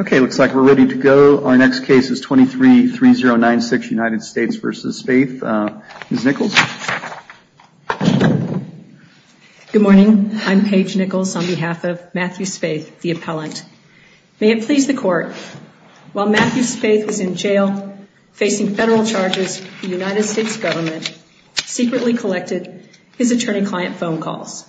Okay, looks like we're ready to go. Our next case is 23-3096, United States v. Spaeth. Ms. Nichols. Good morning. I'm Paige Nichols on behalf of Matthew Spaeth, the appellant. May it please the court, while Matthew Spaeth was in jail facing federal charges, the United States government secretly collected his attorney-client phone calls.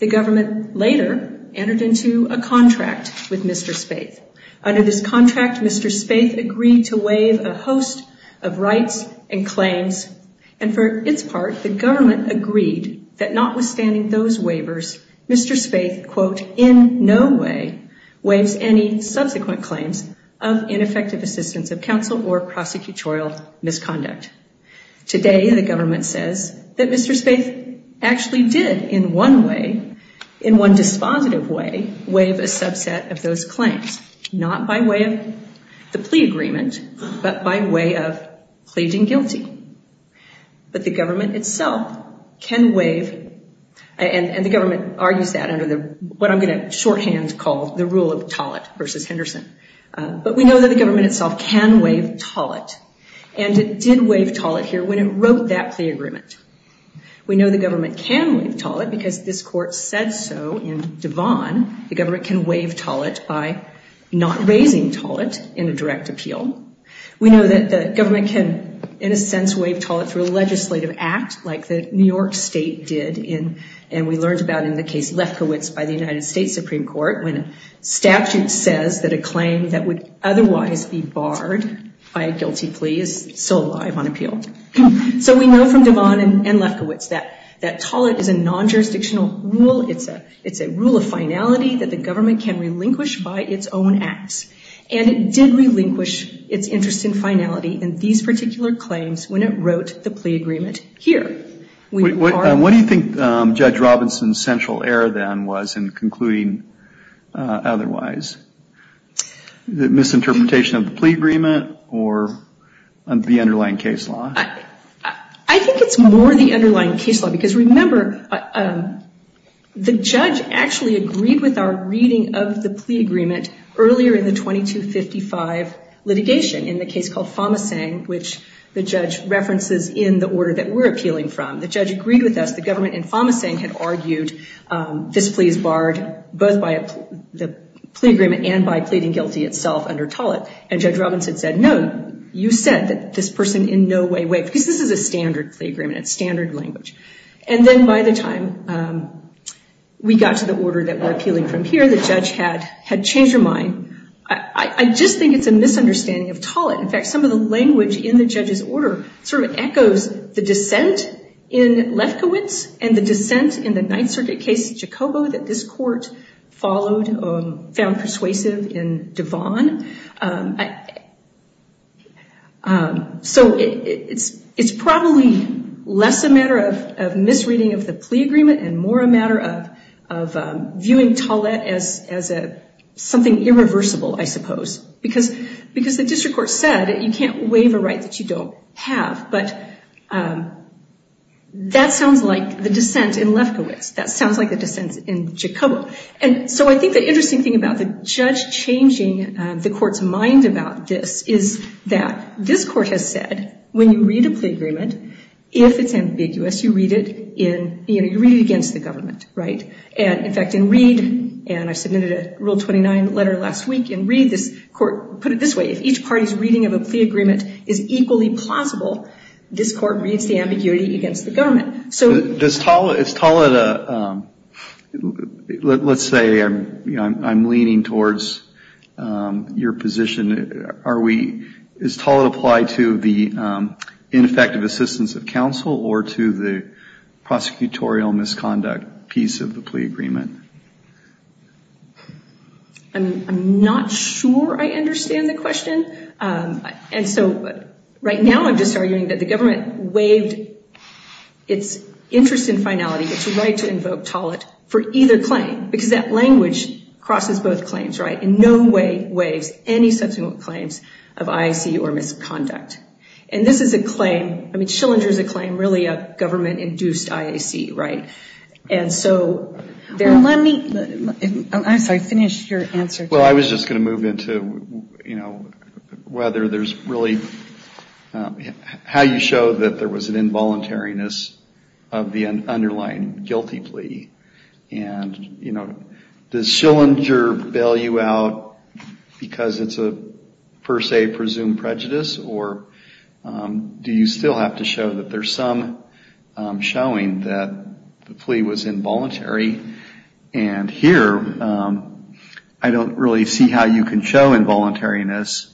The government later entered into a contract with Mr. Spaeth. Under this contract, Mr. Spaeth agreed to waive a host of rights and claims, and for its part, the government agreed that notwithstanding those waivers, Mr. Spaeth, quote, in no way waives any subsequent claims of ineffective assistance of counsel or prosecutorial misconduct. Today, the government says that Mr. Spaeth actually did in one way, in one dispositive way, waive a subset of those claims, not by way of the plea agreement, but by way of pleading guilty. But the government itself can waive, and the government argues that under what I'm going to shorthand call the rule of Tollett v. Henderson, but we know that the government itself can waive Tollett, and it did waive Tollett here when it wrote that plea agreement. We know the government can waive Tollett because this court said so in Devon. The government can waive Tollett by not raising Tollett in a direct appeal. We know that the government can, in a sense, waive Tollett through a legislative act like the New York state did, and we learned about in the case Lefkowitz by the United States Supreme Court, when a statute says that a claim that would otherwise be barred by a guilty plea is still alive on appeal. So we know from Devon and Lefkowitz that Tollett is a non-jurisdictional rule. It's a rule of finality that the government can relinquish by its own acts, and it did relinquish its interest in finality in these particular claims when it wrote the plea agreement here. What do you think Judge Robinson's central error then was in concluding otherwise? The misinterpretation of the plea agreement or the underlying case law? I think it's more the underlying case law because remember, the judge actually agreed with our reading of the plea agreement earlier in the 2255 litigation in the case called Fomasang, which the judge references in the order that we're appealing from. The judge agreed with us. The government in Fomasang had argued this plea is barred both by the plea agreement and by pleading guilty itself under Tollett, and Judge Robinson said, no, you said that this person in no way waived, because this is a standard plea agreement. It's standard language. And then by the time we got to the order that we're appealing from here, the judge had changed her mind. I just think it's a misunderstanding of Tollett. In fact, some of the language in the judge's order sort of echoes the dissent in Lefkowitz and the dissent in the Ninth Circuit case in Jacobo that this court followed, found persuasive in Devon. So it's probably less a matter of misreading of the plea agreement and more a matter of viewing Tollett as something irreversible, I suppose, because the district court said you can't waive a right that you don't have. But that sounds like the dissent in Lefkowitz. That sounds like the dissent in Jacobo. And so I think the interesting thing about the judge changing the court's mind about this is that this court has said when you read a plea agreement, if it's ambiguous, you read it against the government, right? And in fact, in Reed, and I submitted a Rule 29 letter last week in Reed, this court put it this way. If each party's reading of a plea agreement is equally plausible, this court reads the ambiguity against the government. So does Tollett, let's say I'm leaning towards your position. Does Tollett apply to the ineffective assistance of counsel or to the prosecutorial misconduct piece of the plea agreement? I'm not sure I understand the question. And so right now I'm just arguing that the government waived its interest in finality, its right to invoke Tollett for either claim because that language crosses both claims, right? And in no way waives any subsequent claims of IAC or misconduct. And this is a claim, I mean Schillinger's a claim, really a government-induced IAC, right? And so there let me, I'm sorry, finish your answer. Well, I was just going to move into, you know, whether there's really, how you show that there was an involuntariness of the underlying guilty plea. And, you know, does Schillinger bail you out because it's a per se presumed prejudice or do you still have to show that there's some showing that the plea was involuntary? And here I don't really see how you can show involuntariness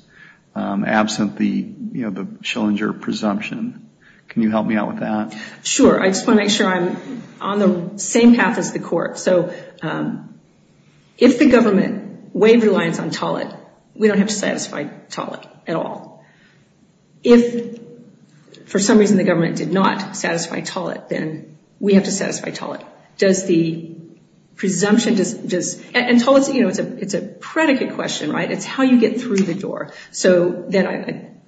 absent the, you know, the Schillinger presumption. Can you help me out with that? Sure. I just want to make sure I'm on the same path as the court. So if the government waived reliance on Tollett, we don't have to satisfy Tollett at all. If for some reason the government did not satisfy Tollett, then we have to satisfy Tollett. Does the presumption, and Tollett's, you know, it's a predicate question, right? It's how you get through the door. So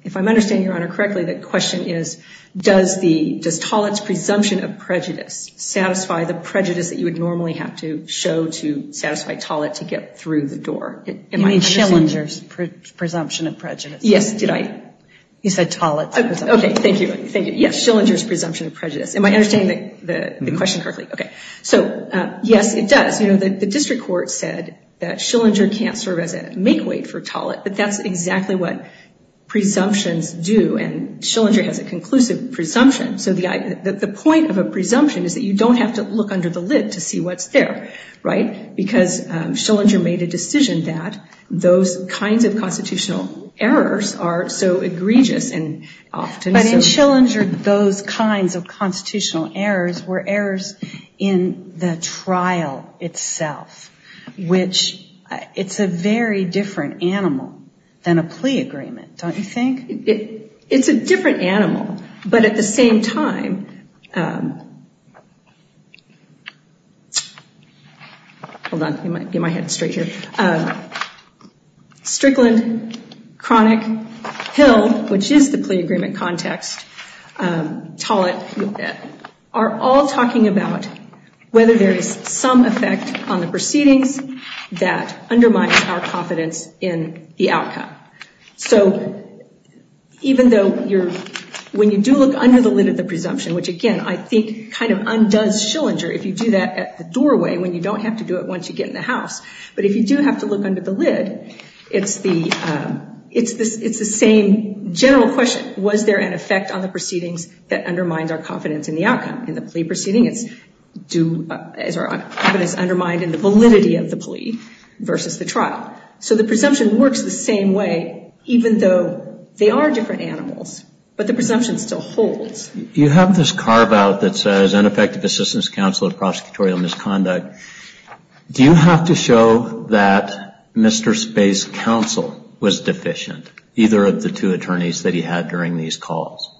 if I'm understanding Your Honor correctly, the question is, does Tollett's presumption of prejudice satisfy the prejudice that you would normally have to show to satisfy Tollett to get through the door? You mean Schillinger's presumption of prejudice? Yes. Did I? You said Tollett's presumption. Okay. Thank you. Thank you. Yes, Schillinger's presumption of prejudice. Am I understanding the question correctly? Okay. So, yes, it does. But that's exactly what presumptions do. And Schillinger has a conclusive presumption. So the point of a presumption is that you don't have to look under the lid to see what's there, right? Because Schillinger made a decision that those kinds of constitutional errors are so egregious. But in Schillinger, those kinds of constitutional errors were errors in the trial itself, which it's a very different animal than a plea agreement, don't you think? It's a different animal. But at the same time, hold on. Get my head straight here. Strickland, Cronick, Hill, which is the plea agreement context, Tollett, are all talking about whether there is some effect on the proceedings that undermines our confidence in the outcome. So even though when you do look under the lid of the presumption, which, again, I think kind of undoes Schillinger if you do that at the doorway when you don't have to do it once you get in the house, but if you do have to look under the lid, it's the same general question. Was there an effect on the proceedings that undermines our confidence in the outcome? In the plea proceeding, it's undermined in the validity of the plea versus the trial. So the presumption works the same way, even though they are different animals, but the presumption still holds. You have this carve-out that says ineffective assistance counsel of prosecutorial misconduct. Do you have to show that Mr. Space's counsel was deficient, either of the two attorneys that he had during these calls?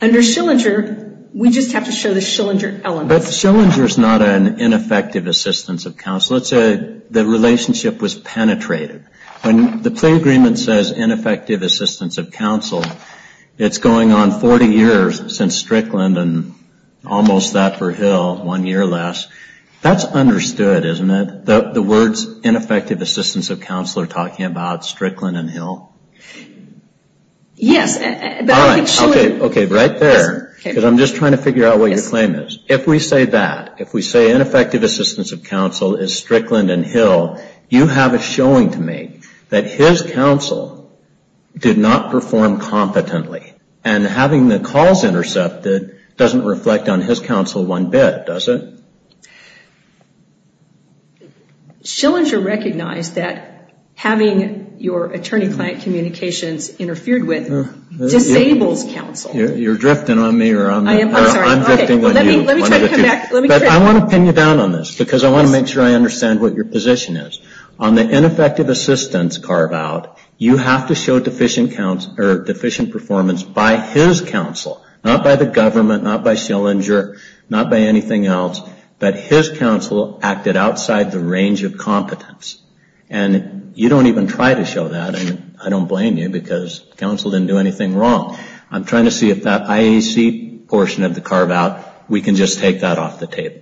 Under Schillinger, we just have to show the Schillinger elements. But Schillinger is not an ineffective assistance of counsel. Let's say the relationship was penetrated. When the plea agreement says ineffective assistance of counsel, it's going on 40 years since Strickland and almost that for Hill, one year less. That's understood, isn't it? The words ineffective assistance of counsel are talking about Strickland and Hill? Yes. Right there, because I'm just trying to figure out what your claim is. If we say that, if we say ineffective assistance of counsel is Strickland and Hill, you have a showing to make that his counsel did not perform competently. And having the calls intercepted doesn't reflect on his counsel one bit, does it? Schillinger recognized that having your attorney-client communications interfered with disables counsel. You're drifting on me or I'm drifting on you. Let me try to come back. I want to pin you down on this because I want to make sure I understand what your position is. On the ineffective assistance carve-out, you have to show deficient performance by his counsel, not by the government, not by Schillinger, not by anything else, that his counsel acted outside the range of competence. And you don't even try to show that. And I don't blame you because counsel didn't do anything wrong. I'm trying to see if that IAC portion of the carve-out, we can just take that off the table.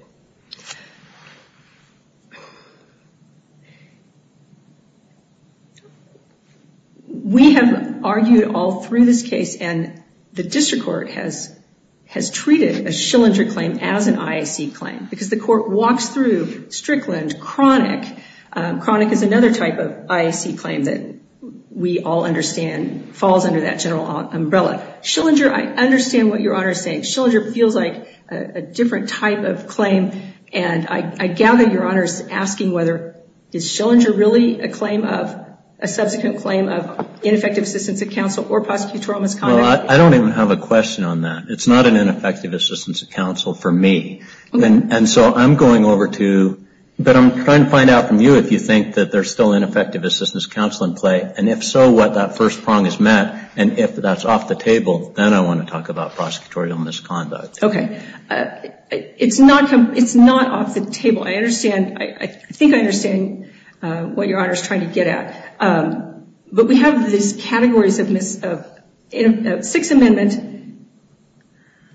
We have argued all through this case, and the district court has treated a Schillinger claim as an IAC claim, because the court walks through Strickland chronic. Chronic is another type of IAC claim that we all understand falls under that general umbrella. Schillinger, I understand what your Honor is saying. Schillinger feels like a different type of claim, and I gather your Honor is asking whether is Schillinger really a claim of, a subsequent claim of ineffective assistance of counsel or prosecutorial misconduct? Well, I don't even have a question on that. It's not an ineffective assistance of counsel for me. And so I'm going over to, but I'm trying to find out from you if you think that there's still ineffective assistance of counsel in play. And if so, what that first prong is met. And if that's off the table, then I want to talk about prosecutorial misconduct. Okay. It's not off the table. I think I understand what your Honor is trying to get at. But we have these categories of six amendment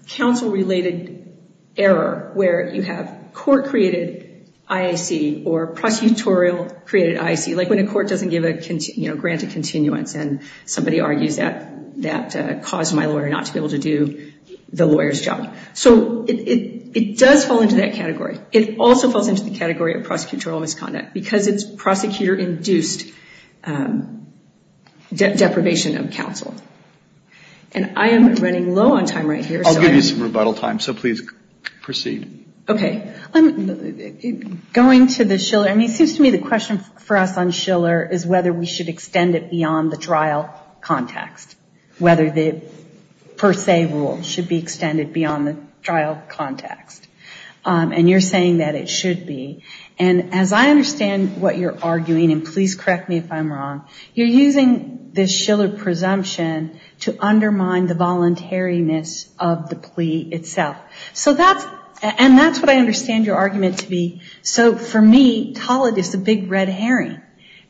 counsel-related error, where you have court-created IAC or prosecutorial-created IAC, like when a court doesn't grant a continuance and somebody argues that caused my lawyer not to be able to do the lawyer's job. So it does fall into that category. It also falls into the category of prosecutorial misconduct, because it's prosecutor-induced deprivation of counsel. And I am running low on time right here. I'll give you some rebuttal time, so please proceed. Okay. Going to the Schiller, I mean, it seems to me the question for us on Schiller is whether we should extend it beyond the trial context, whether the per se rule should be extended beyond the trial context. And you're saying that it should be. And as I understand what you're arguing, and please correct me if I'm wrong, you're using this Schiller presumption to undermine the voluntariness of the plea itself. And that's what I understand your argument to be. So, for me, Tollett is a big red herring,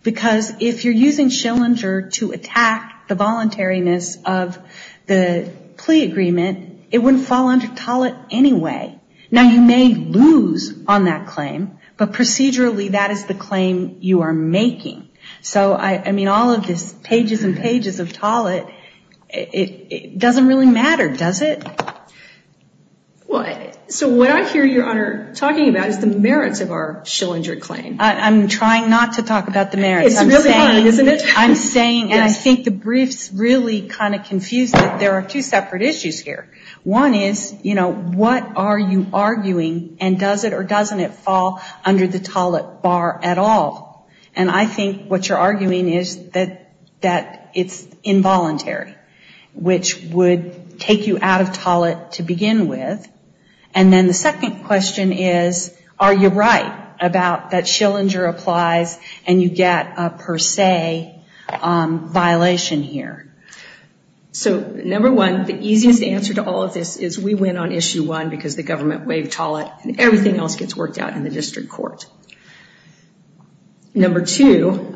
because if you're using Schillinger to attack the voluntariness of the plea agreement, it wouldn't fall under Tollett anyway. Now, you may lose on that claim, but procedurally that is the claim you are making. So, I mean, all of this pages and pages of Tollett, it doesn't really matter, does it? Well, so what I hear your Honor talking about is the merits of our Schillinger claim. I'm trying not to talk about the merits. It's really hard, isn't it? I'm saying, and I think the brief's really kind of confused, that there are two separate issues here. One is, you know, what are you arguing, and does it or doesn't it fall under the Tollett bar at all? And I think what you're arguing is that it's involuntary, which would take you out of Tollett to begin with. And then the second question is, are you right about that Schillinger applies and you get a per se violation here? So, number one, the easiest answer to all of this is we win on issue one, because the government waived Tollett, and everything else gets worked out in the district court. Number two,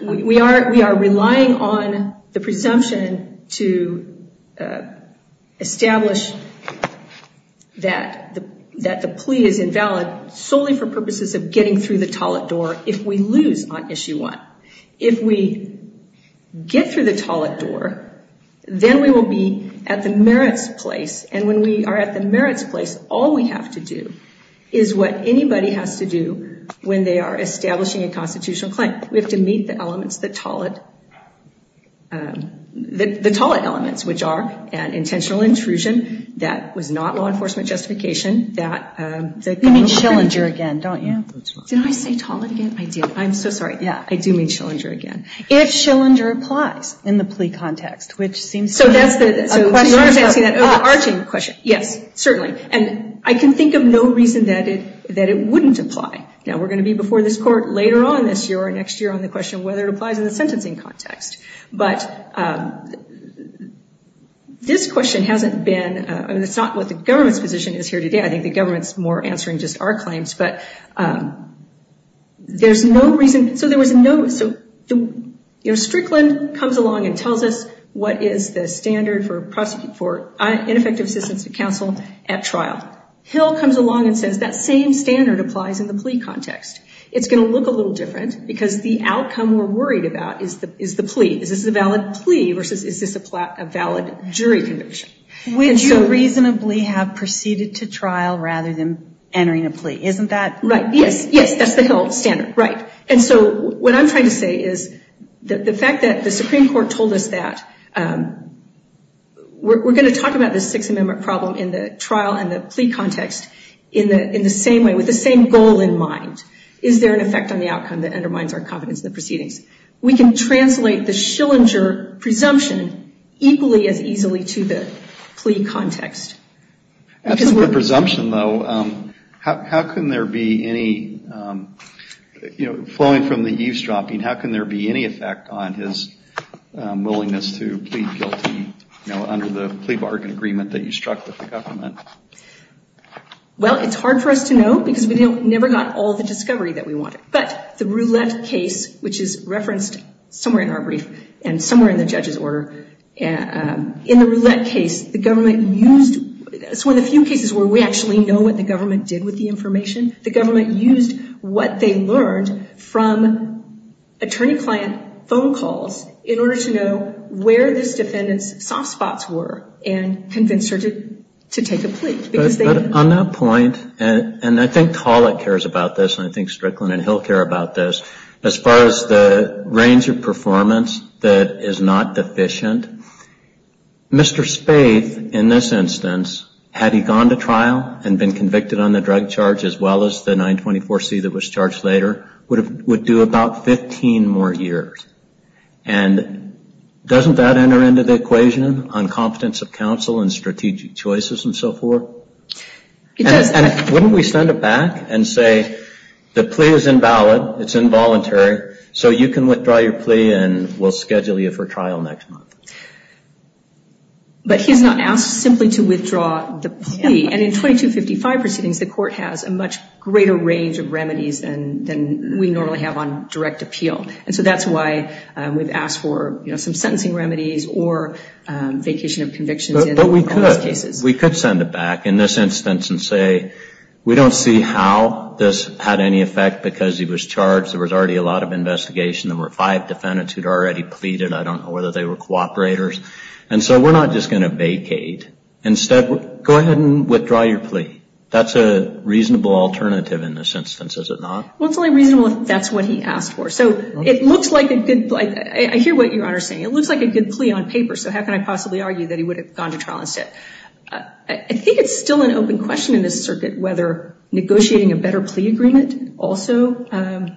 we are relying on the presumption to establish that the plea is invalid solely for purposes of getting through the Tollett door if we lose on issue one. If we get through the Tollett door, then we will be at the merits place, and when we are at the merits place, all we have to do is what anybody has to do when they are establishing a constitutional claim. We have to meet the Tollett elements, which are an intentional intrusion that was not law enforcement justification. You mean Schillinger again, don't you? Did I say Tollett again? I did. I'm so sorry. Yeah, I do mean Schillinger again. If Schillinger applies in the plea context, which seems to be a question for us. Yes, certainly, and I can think of no reason that it wouldn't apply. Now, we're going to be before this court later on this year or next year on the question of whether it applies in the sentencing context, but this question hasn't been, I mean, it's not what the government's position is here today. I think the government's more answering just our claims, but there's no reason, so Strickland comes along and tells us what is the standard for ineffective assistance to counsel at trial. Hill comes along and says that same standard applies in the plea context. It's going to look a little different because the outcome we're worried about is the plea. Is this a valid plea versus is this a valid jury conviction? Would you reasonably have proceeded to trial rather than entering a plea? Isn't that right? Yes, that's the Hill standard, right. And so what I'm trying to say is the fact that the Supreme Court told us that we're going to talk about this Sixth Amendment problem in the trial and the plea context in the same way, with the same goal in mind. Is there an effect on the outcome that undermines our confidence in the proceedings? We can translate the Schillinger presumption equally as easily to the plea context. That's a good presumption, though. How can there be any, you know, flowing from the eavesdropping, how can there be any effect on his willingness to plead guilty, you know, under the plea bargain agreement that you struck with the government? Well, it's hard for us to know because we never got all the discovery that we wanted. But the roulette case, which is referenced somewhere in our brief and somewhere in the judge's order, in the roulette case, the government used, it's one of the few cases where we actually know what the government did with the information, the government used what they learned from attorney-client phone calls in order to know where this defendant's soft spots were and convince her to take a plea. But on that point, and I think Collett cares about this and I think Strickland and Hill care about this, as far as the range of performance that is not deficient, Mr. Spaeth, in this instance, had he gone to trial and been convicted on the drug charge as well as the 924C that was charged later, would do about 15 more years. And doesn't that enter into the equation on confidence of counsel and strategic choices and so forth? It does. And wouldn't we send it back and say the plea is invalid, it's involuntary, so you can withdraw your plea and we'll schedule you for trial next month. But he's not asked simply to withdraw the plea. And in 2255 proceedings, the court has a much greater range of remedies than we normally have on direct appeal. And so that's why we've asked for some sentencing remedies or vacation of convictions in all those cases. But we could. We could send it back in this instance and say, we don't see how this had any effect because he was charged. There was already a lot of investigation. There were five defendants who had already pleaded. I don't know whether they were cooperators. And so we're not just going to vacate. Instead, go ahead and withdraw your plea. That's a reasonable alternative in this instance, is it not? Well, it's only reasonable if that's what he asked for. So it looks like a good – I hear what Your Honor is saying. It looks like a good plea on paper, so how can I possibly argue that he would have gone to trial instead? I think it's still an open question in this circuit whether negotiating a better plea agreement also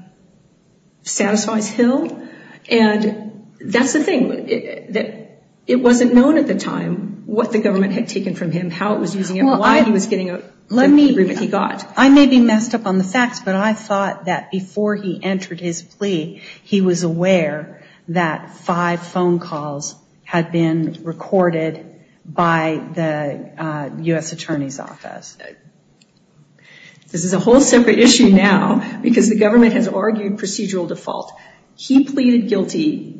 satisfies Hill. And that's the thing. It wasn't known at the time what the government had taken from him, how it was using him, why he was getting the agreement he got. I may be messed up on the facts, but I thought that before he entered his plea, he was aware that five phone calls had been recorded by the U.S. Attorney's Office. This is a whole separate issue now because the government has argued procedural default. He pleaded guilty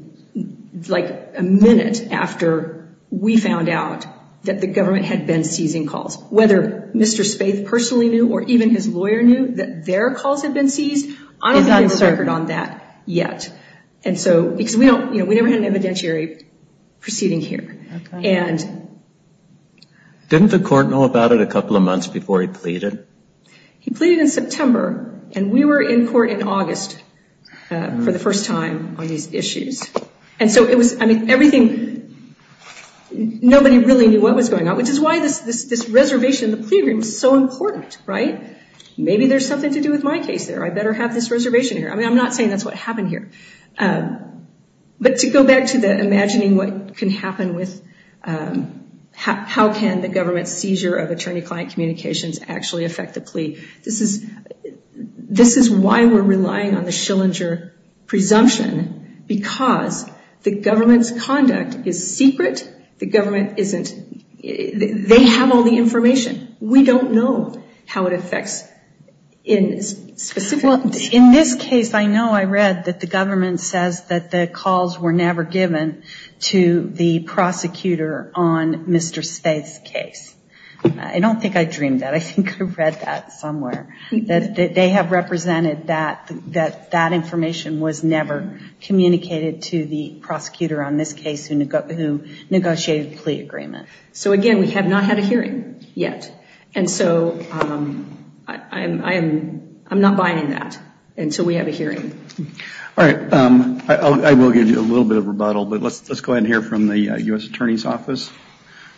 like a minute after we found out that the government had been seizing calls. Whether Mr. Spaeth personally knew or even his lawyer knew that their calls had been seized, I don't have his record on that yet because we never had an evidentiary proceeding here. Didn't the court know about it a couple of months before he pleaded? He pleaded in September, and we were in court in August for the first time on these issues. And so it was – I mean, everything – nobody really knew what was going on, which is why this reservation in the plea agreement was so important, right? Maybe there's something to do with my case there. I better have this reservation here. I mean, I'm not saying that's what happened here. But to go back to the imagining what can happen with – how can the government's seizure of attorney-client communications actually affect the plea, this is why we're relying on the Schillinger presumption because the government's conduct is secret. The government isn't – they have all the information. We don't know how it affects in specific – Well, in this case, I know I read that the government says that the calls were never given to the prosecutor on Mr. Spaeth's case. I don't think I dreamed that. I think I read that somewhere, that they have represented that that information was never communicated to the prosecutor on this case who negotiated the plea agreement. So, again, we have not had a hearing yet, and so I'm not buying that until we have a hearing. All right. I will give you a little bit of rebuttal, but let's go ahead and hear from the U.S. Attorney's Office.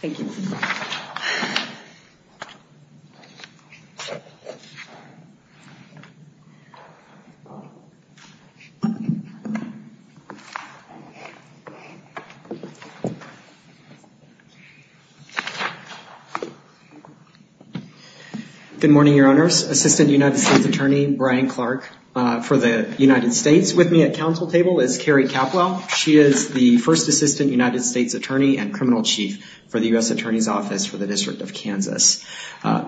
Thank you. Good morning, Your Honors. Assistant United States Attorney Brian Clark for the United States with me at council table is Carrie Capwell. She is the first assistant United States attorney and criminal chief for the U.S. Attorney's Office for the District of Kansas.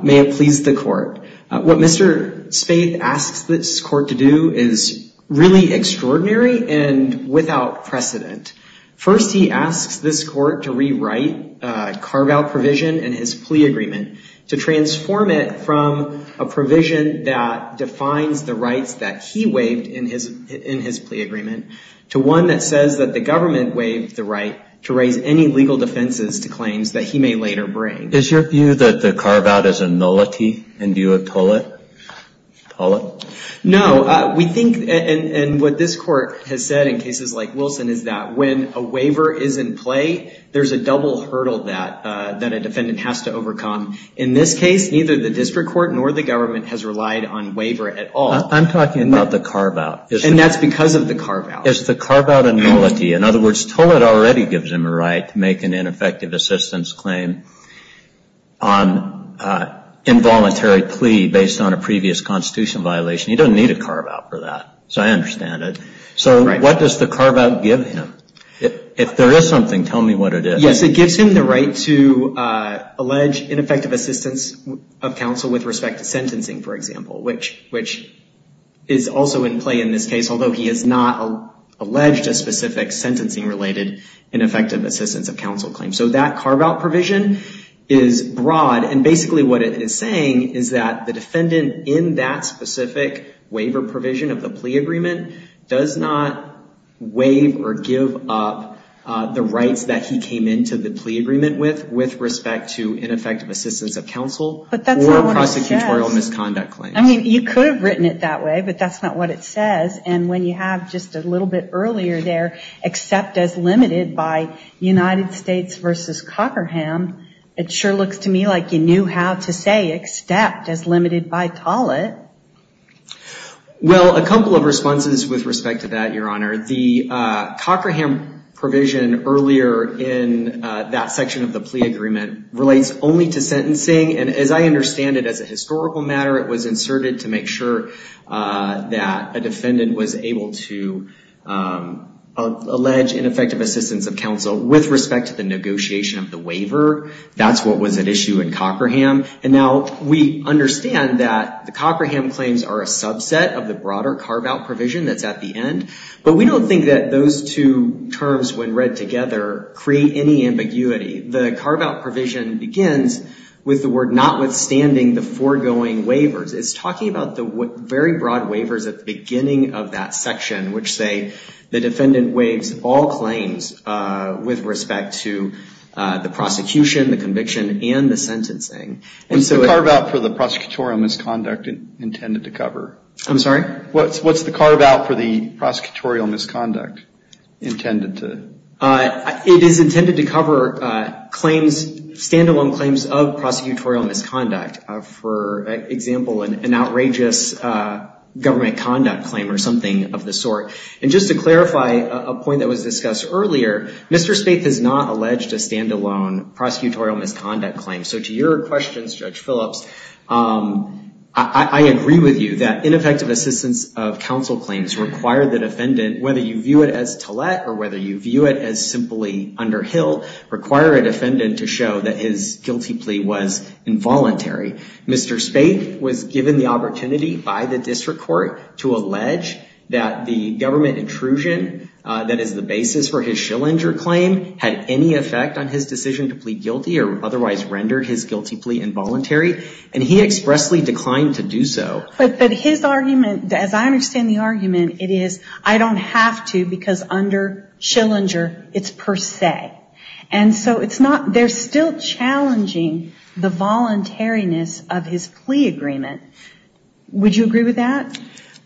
May it please the court. What Mr. Spaeth asks this court to do is really extraordinary and without precedent. First, he asks this court to rewrite a carve-out provision in his plea agreement, to transform it from a provision that defines the rights that he waived in his plea agreement, to one that says that the government waived the right to raise any legal defenses to claims that he may later bring. Is your view that the carve-out is a nullity, and do you appal it? No. We think, and what this court has said in cases like Wilson is that when a waiver is in play, there's a double hurdle that a defendant has to overcome. In this case, neither the district court nor the government has relied on waiver at all. I'm talking about the carve-out. And that's because of the carve-out. It's the carve-out and nullity. In other words, Toled already gives him a right to make an ineffective assistance claim on involuntary plea based on a previous constitution violation. He doesn't need a carve-out for that, so I understand it. So what does the carve-out give him? If there is something, tell me what it is. Yes, it gives him the right to allege ineffective assistance of counsel with respect to sentencing, for example, which is also in play in this case, although he has not alleged a specific sentencing-related ineffective assistance of counsel claim. So that carve-out provision is broad, and basically what it is saying is that the defendant, in that specific waiver provision of the plea agreement, does not waive or give up the rights that he came into the plea agreement with with respect to ineffective assistance of counsel or prosecutorial misconduct claims. I mean, you could have written it that way, but that's not what it says. And when you have just a little bit earlier there, except as limited by United States versus Cochraham, it sure looks to me like you knew how to say except as limited by Tollett. Well, a couple of responses with respect to that, Your Honor. The Cochraham provision earlier in that section of the plea agreement relates only to sentencing, and as I understand it, as a historical matter, it was inserted to make sure that a defendant was able to allege ineffective assistance of counsel with respect to the negotiation of the waiver. That's what was at issue in Cochraham. And now we understand that the Cochraham claims are a subset of the broader carve-out provision that's at the end, but we don't think that those two terms, when read together, create any ambiguity. The carve-out provision begins with the word notwithstanding the foregoing waivers. It's talking about the very broad waivers at the beginning of that section, which say the defendant waives all claims with respect to the prosecution, the conviction, and the sentencing. What's the carve-out for the prosecutorial misconduct intended to cover? I'm sorry? What's the carve-out for the prosecutorial misconduct intended to? It is intended to cover claims, stand-alone claims of prosecutorial misconduct. For example, an outrageous government conduct claim or something of the sort. And just to clarify a point that was discussed earlier, Mr. Spaeth has not alleged a stand-alone prosecutorial misconduct claim. So to your questions, Judge Phillips, I agree with you that ineffective assistance of counsel claims require the defendant, whether you view it as to let or whether you view it as simply under hill, require a defendant to show that his guilty plea was involuntary. Mr. Spaeth was given the opportunity by the district court to allege that the government intrusion, that is the basis for his Schillinger claim, had any effect on his decision to plead guilty or otherwise render his guilty plea involuntary. And he expressly declined to do so. But his argument, as I understand the argument, it is I don't have to because under Schillinger it's per se. And so it's not, they're still challenging the voluntariness of his plea agreement. Would you agree with that?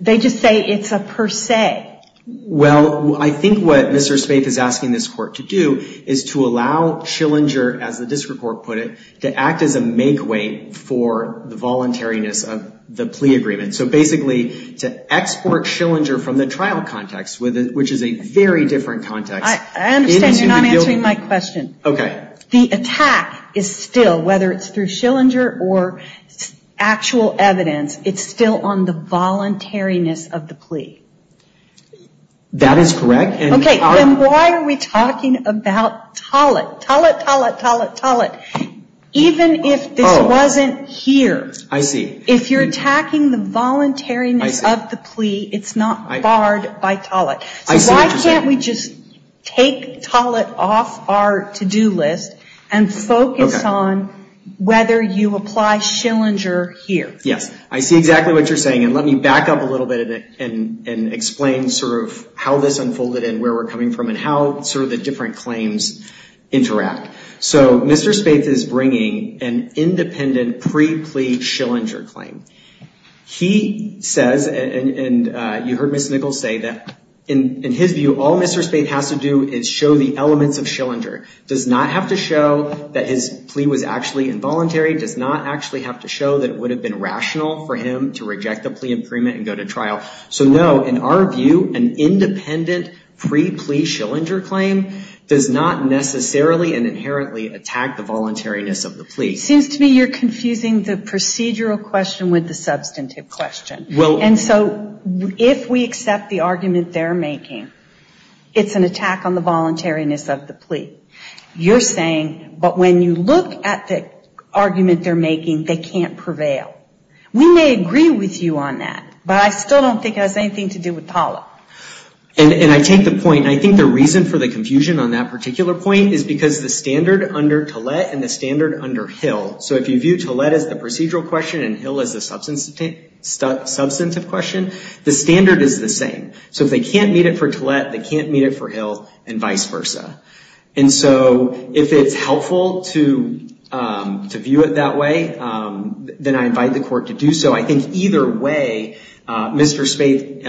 They just say it's a per se. Well, I think what Mr. Spaeth is asking this court to do is to allow Schillinger, as the district court put it, to act as a make way for the voluntariness of the plea agreement. So basically to export Schillinger from the trial context, which is a very different context. I understand you're not answering my question. Okay. The attack is still, whether it's through Schillinger or actual evidence, it's still on the voluntariness of the plea. That is correct. Okay. Then why are we talking about Tollett? Tollett, Tollett, Tollett, Tollett. Even if this wasn't here. I see. If you're attacking the voluntariness of the plea, it's not barred by Tollett. So why can't we just take Tollett off our to-do list and focus on whether you apply Schillinger here? Yes. I see exactly what you're saying. And let me back up a little bit and explain sort of how this unfolded and where we're coming from and how sort of the different claims interact. So Mr. Spaeth is bringing an independent pre-plea Schillinger claim. He says, and you heard Ms. Nichols say, that in his view, all Mr. Spaeth has to do is show the elements of Schillinger. Does not have to show that his plea was actually involuntary. Does not actually have to show that it would have been rational for him to reject the plea and go to trial. So no, in our view, an independent pre-plea Schillinger claim does not necessarily and inherently attack the voluntariness of the plea. Seems to me you're confusing the procedural question with the substantive question. And so if we accept the argument they're making, it's an attack on the voluntariness of the plea. You're saying, but when you look at the argument they're making, they can't prevail. We may agree with you on that, but I still don't think it has anything to do with TALA. And I take the point, I think the reason for the confusion on that particular point is because the standard under TALET and the standard under HIL. So if you view TALET as the procedural question and HIL as the substantive question, the standard is the same. So if they can't meet it for TALET, they can't meet it for HIL and vice versa. And so if it's helpful to view it that way, then I invite the court to do so. I think either way, Mr. Spaeth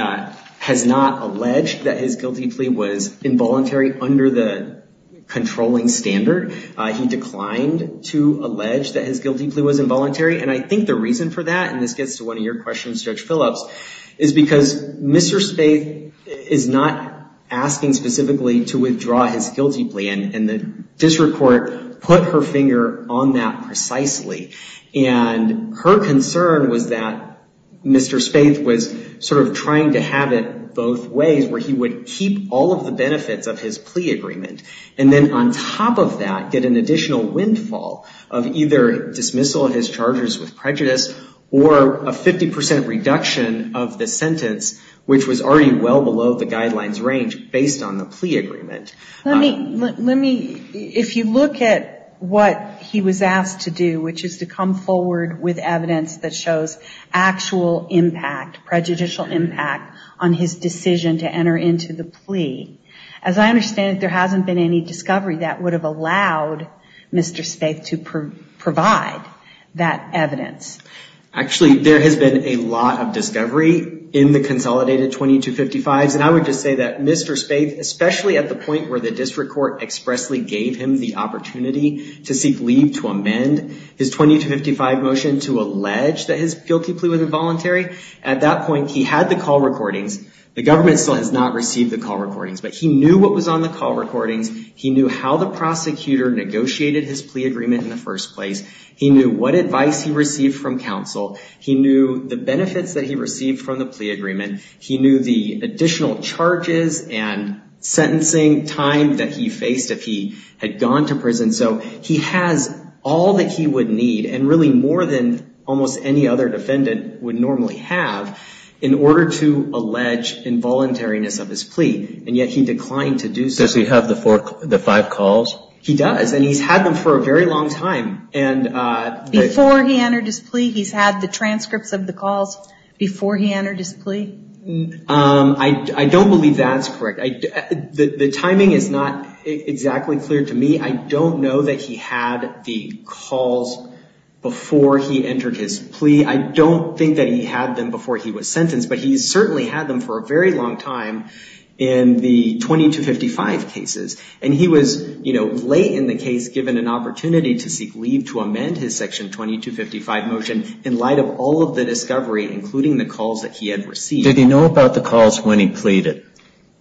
has not alleged that his guilty plea was involuntary under the controlling standard. He declined to allege that his guilty plea was involuntary. And I think the reason for that, and this gets to one of your questions, Judge Phillips, is because Mr. Spaeth is not asking specifically to withdraw his guilty plea. And the district court put her finger on that precisely. And her concern was that Mr. Spaeth was sort of trying to have it both ways, where he would keep all of the benefits of his plea agreement. And then on top of that, get an additional windfall of either dismissal of his charges with prejudice or a 50% reduction of the sentence, which was already well below the guidelines range based on the plea agreement. Let me, if you look at what he was asked to do, which is to come forward with evidence that shows actual impact, prejudicial impact, on his decision to enter into the plea. As I understand it, there hasn't been any discovery that would have allowed Mr. Spaeth to provide that evidence. Actually, there has been a lot of discovery in the consolidated 2255s. And I would just say that Mr. Spaeth, especially at the point where the district court expressly gave him the opportunity to seek leave to amend his 2255 motion to allege that his guilty plea was involuntary, at that point he had the call recordings. The government still has not received the call recordings, but he knew what was on the call recordings. He knew how the prosecutor negotiated his plea agreement in the first place. He knew what advice he received from counsel. He knew the benefits that he received from the plea agreement. He knew the additional charges and sentencing time that he faced if he had gone to prison. So he has all that he would need, and really more than almost any other defendant would normally have, in order to allege involuntariness of his plea, and yet he declined to do so. Does he have the five calls? He does, and he's had them for a very long time. Before he entered his plea, he's had the transcripts of the calls before he entered his plea? I don't believe that's correct. The timing is not exactly clear to me. I don't know that he had the calls before he entered his plea. I don't think that he had them before he was sentenced, but he certainly had them for a very long time in the 2255 cases. And he was, you know, late in the case, given an opportunity to seek leave to amend his Section 2255 motion in light of all of the discovery, including the calls that he had received. Did he know about the calls when he pleaded?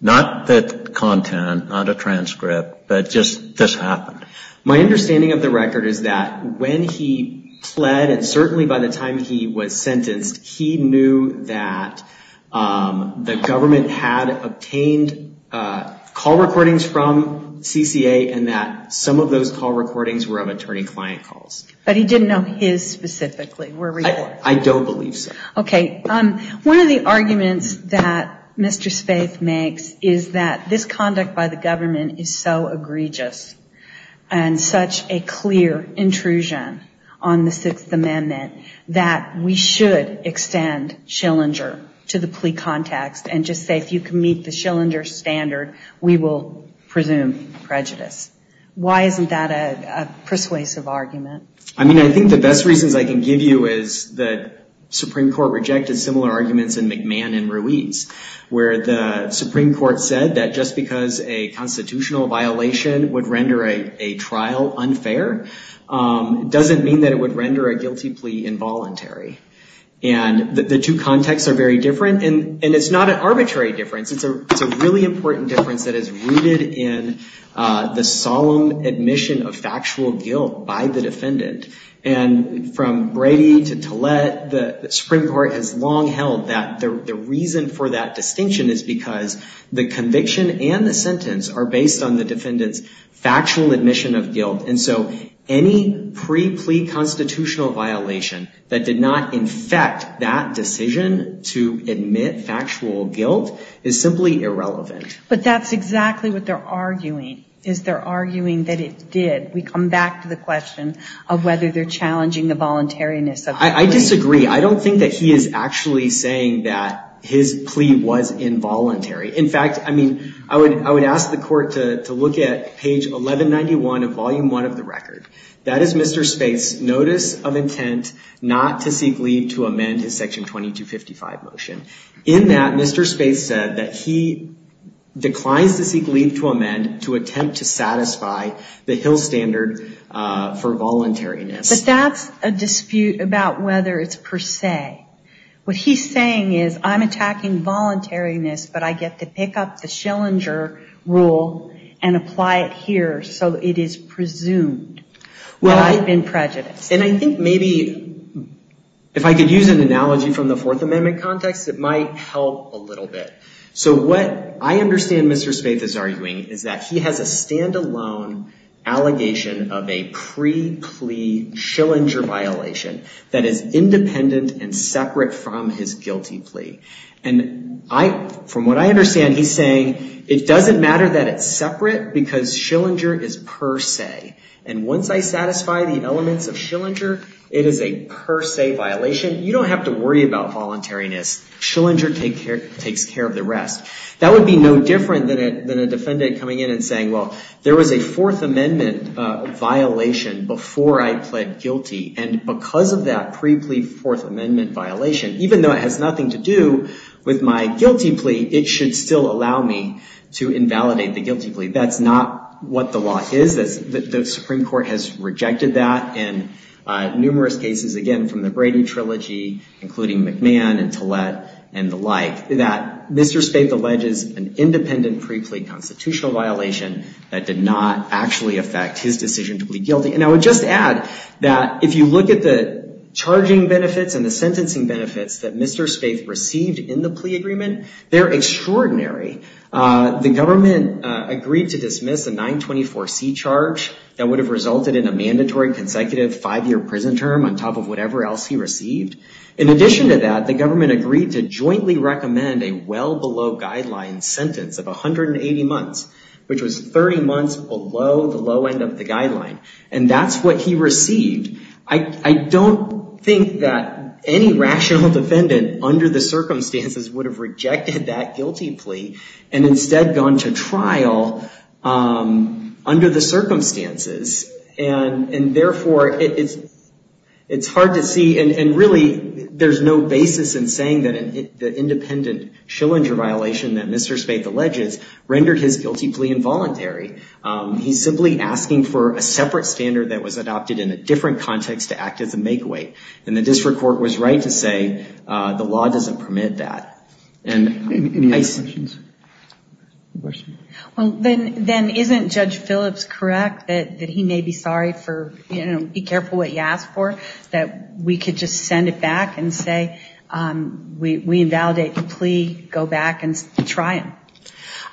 Not the content, not a transcript, but just this happened. My understanding of the record is that when he pled, and certainly by the time he was sentenced, he knew that the government had obtained call recordings from CCA, and that some of those call recordings were of attorney-client calls. But he didn't know his specifically? I don't believe so. Okay. One of the arguments that Mr. Spaeth makes is that this conduct by the government is so egregious and such a clear intrusion on the Sixth Amendment that we should extend Schillinger to the plea context and just say, if you can meet the Schillinger standard, we will presume prejudice. Why isn't that a persuasive argument? I mean, I think the best reasons I can give you is that Supreme Court rejected similar arguments in McMahon and Ruiz, where the Supreme Court said that just because a constitutional violation would render a trial unfair doesn't mean that it would render a guilty plea involuntary. And the two contexts are very different. And it's not an arbitrary difference. It's a really important difference that is rooted in the solemn admission of factual guilt by the defendant. And from Brady to Tillett, the Supreme Court has long held that the reason for that distinction is because the conviction and the sentence are based on the defendant's factual admission of guilt. And so any pre-plea constitutional violation that did not infect that decision to admit factual guilt is simply irrelevant. But that's exactly what they're arguing, is they're arguing that it did. We come back to the question of whether they're challenging the voluntariness of the plea. I disagree. I don't think that he is actually saying that his plea was involuntary. In fact, I mean, I would ask the court to look at page 1191 of Volume 1 of the record. That is Mr. Spaeth's notice of intent not to seek leave to amend his Section 2255 motion. In that, Mr. Spaeth said that he declines to seek leave to amend to attempt to satisfy the Hill Standard for voluntariness. But that's a dispute about whether it's per se. What he's saying is, I'm attacking voluntariness, but I get to pick up the Schillinger rule and apply it here, so it is presumed that I've been prejudiced. And I think maybe if I could use an analogy from the Fourth Amendment context, it might help a little bit. So what I understand Mr. Spaeth is arguing is that he has a stand-alone allegation of a pre-plea Schillinger violation that is independent and separate from his guilty plea. And from what I understand, he's saying it doesn't matter that it's separate because Schillinger is per se. And once I satisfy the elements of Schillinger, it is a per se violation. You don't have to worry about voluntariness. Schillinger takes care of the rest. That would be no different than a defendant coming in and saying, well, there was a Fourth Amendment violation before I pled guilty. And because of that pre-plea Fourth Amendment violation, even though it has nothing to do with my guilty plea, it should still allow me to invalidate the guilty plea. That's not what the law is. The Supreme Court has rejected that in numerous cases, again, from the Brady trilogy, including McMahon and Tillett and the like, that Mr. Spaeth alleges an independent pre-plea constitutional violation that did not actually affect his decision to plead guilty. And I would just add that if you look at the charging benefits and the sentencing benefits that Mr. Spaeth received in the plea agreement, they're extraordinary. The government agreed to dismiss a 924C charge that would have resulted in a mandatory consecutive five-year prison term on top of whatever else he received. In addition to that, the government agreed to jointly recommend a well-below-guideline sentence of 180 months, which was 30 months below the low end of the guideline. And that's what he received. I don't think that any rational defendant under the circumstances would have rejected that guilty plea and instead gone to trial under the circumstances. And therefore, it's hard to see. And really, there's no basis in saying that the independent Schillinger violation that Mr. Spaeth alleges rendered his guilty plea involuntary. He's simply asking for a separate standard that was adopted in a different context to act as a make-away. And the district court was right to say the law doesn't permit that. Any other questions? Well, then isn't Judge Phillips correct that he may be sorry for, you know, be careful what you ask for, that we could just send it back and say we invalidate the plea, go back and try him?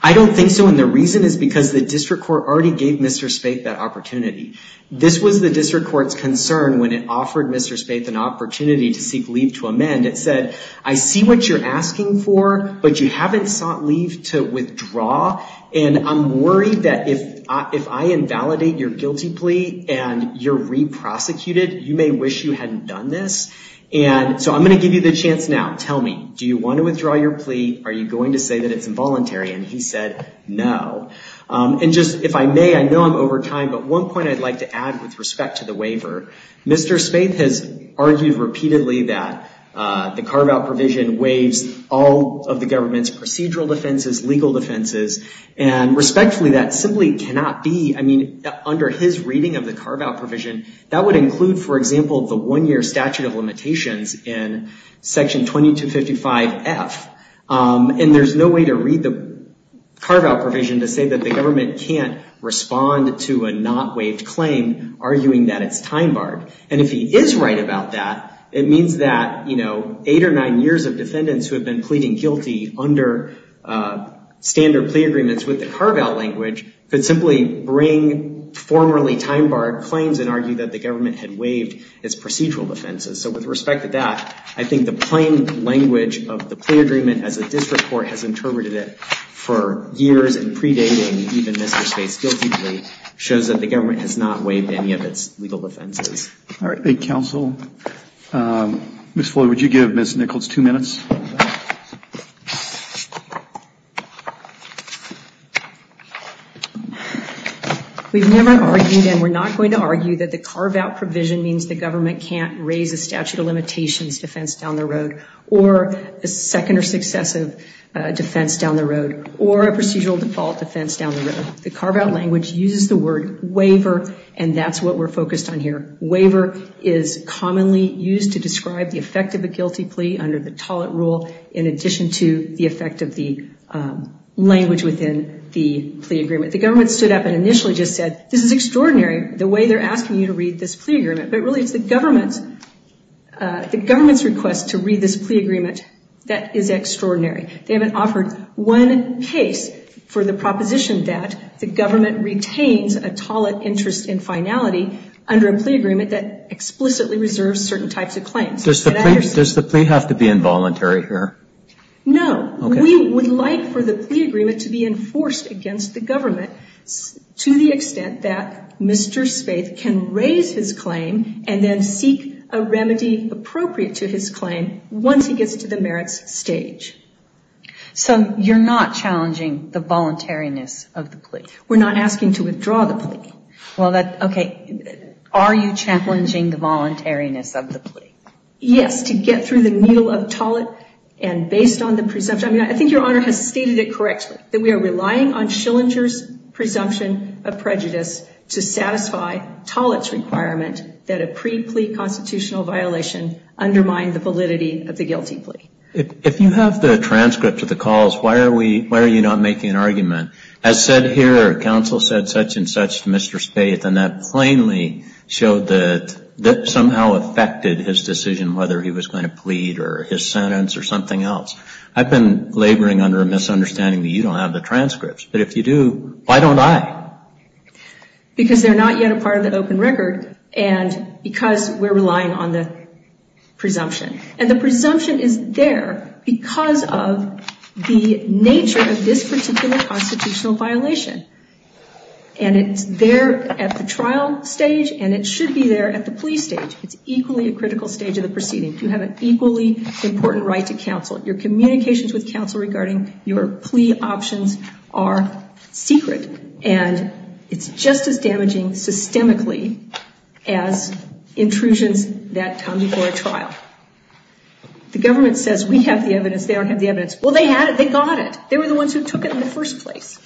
I don't think so. And the reason is because the district court already gave Mr. Spaeth that opportunity. This was the district court's concern when it offered Mr. Spaeth an opportunity to seek leave to amend. It said, I see what you're asking for, but you haven't sought leave to withdraw. And I'm worried that if I invalidate your guilty plea and you're re-prosecuted, you may wish you hadn't done this. And so I'm going to give you the chance now. Tell me, do you want to withdraw your plea? Are you going to say that it's involuntary? And he said no. And just if I may, I know I'm over time, but one point I'd like to add with respect to the waiver. Mr. Spaeth has argued repeatedly that the carve-out provision waives all of the government's procedural defenses, legal defenses, and respectfully, that simply cannot be. I mean, under his reading of the carve-out provision, that would include, for example, the one-year statute of limitations in Section 2255F. And there's no way to read the carve-out provision to say that the government can't respond to a not waived claim, arguing that it's time-barred. And if he is right about that, it means that, you know, standard plea agreements with the carve-out language could simply bring formerly time-barred claims and argue that the government had waived its procedural defenses. So with respect to that, I think the plain language of the plea agreement, as the district court has interpreted it for years and predating even Mr. Spaeth's guilty plea, shows that the government has not waived any of its legal defenses. All right. Thank you, counsel. Ms. Floyd, would you give Ms. Nichols two minutes? We've never argued, and we're not going to argue, that the carve-out provision means the government can't raise a statute of limitations defense down the road or a second or successive defense down the road or a procedural default defense down the road. The carve-out language uses the word waiver, and that's what we're focused on here. Waiver is commonly used to describe the effect of a guilty plea under the toll it rule in addition to the effect of the language within the plea agreement. The government stood up and initially just said, this is extraordinary the way they're asking you to read this plea agreement, but really it's the government's request to read this plea agreement that is extraordinary. They haven't offered one case for the proposition that the government retains a toll it interest in finality under a plea agreement that explicitly reserves certain types of claims. Does the plea have to be involuntary here? No. Okay. We would like for the plea agreement to be enforced against the government to the extent that Mr. Spaeth can raise his claim and then seek a remedy appropriate to his claim once he gets to the merits stage. So you're not challenging the voluntariness of the plea? We're not asking to withdraw the plea. Okay. Are you challenging the voluntariness of the plea? Yes. To get through the needle of toll it and based on the presumption, I think Your Honor has stated it correctly, that we are relying on Schillinger's presumption of prejudice to satisfy toll it's requirement that a pre-plea constitutional violation undermine the validity of the guilty plea. If you have the transcript of the calls, why are you not making an argument? As said here, counsel said such and such to Mr. Spaeth and that plainly showed that that somehow affected his decision whether he was going to plead or his sentence or something else. I've been laboring under a misunderstanding that you don't have the transcripts, but if you do, why don't I? Because they're not yet a part of the open record and because we're relying on the presumption. And the presumption is there because of the nature of this particular constitutional violation. And it's there at the trial stage and it should be there at the plea stage. It's equally a critical stage of the proceeding. You have an equally important right to counsel. Your communications with counsel regarding your plea options are secret and it's just as damaging systemically as intrusions that come before a trial. The government says we have the evidence. They don't have the evidence. Well, they had it. They got it. They were the ones who took it in the first place.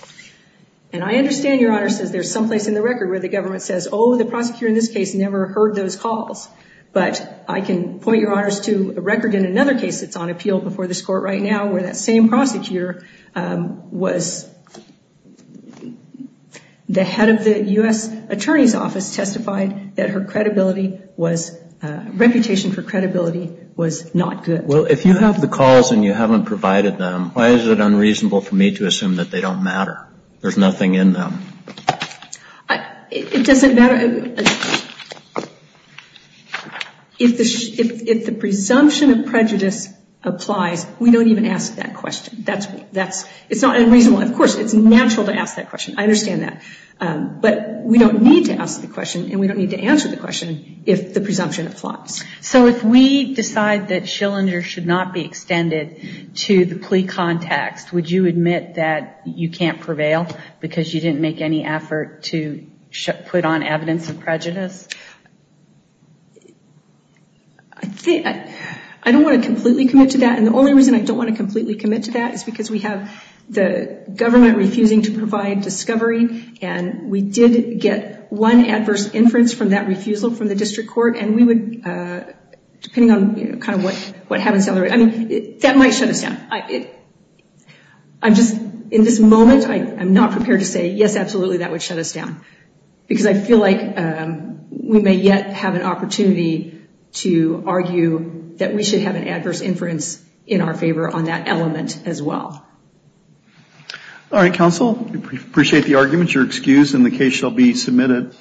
And I understand, Your Honor, since there's some place in the record where the government says, oh, the prosecutor in this case never heard those calls, but I can point Your Honors to a record in another case that's on appeal before this court right now where that same prosecutor was the head of the U.S. Attorney's Office testified that her credibility was, reputation for credibility was not good. Well, if you have the calls and you haven't provided them, why is it unreasonable for me to assume that they don't matter? There's nothing in them. It doesn't matter. If the presumption of prejudice applies, we don't even ask that question. It's not unreasonable. Of course, it's natural to ask that question. I understand that. But we don't need to ask the question and we don't need to answer the question if the presumption applies. So if we decide that Schillinger should not be extended to the plea context, would you admit that you can't prevail because you didn't make any effort to put on evidence of prejudice? I don't want to completely commit to that, and the only reason I don't want to completely commit to that is because we have the government refusing to provide discovery, and we did get one adverse inference from that refusal from the district court, and we would, depending on kind of what happens down the road, I mean, that might shut us down. I'm just, in this moment, I'm not prepared to say, yes, absolutely, that would shut us down, because I feel like we may yet have an opportunity to argue that we should have an adverse inference in our favor on that element as well. All right, counsel, we appreciate the argument. You're excused and the case shall be submitted.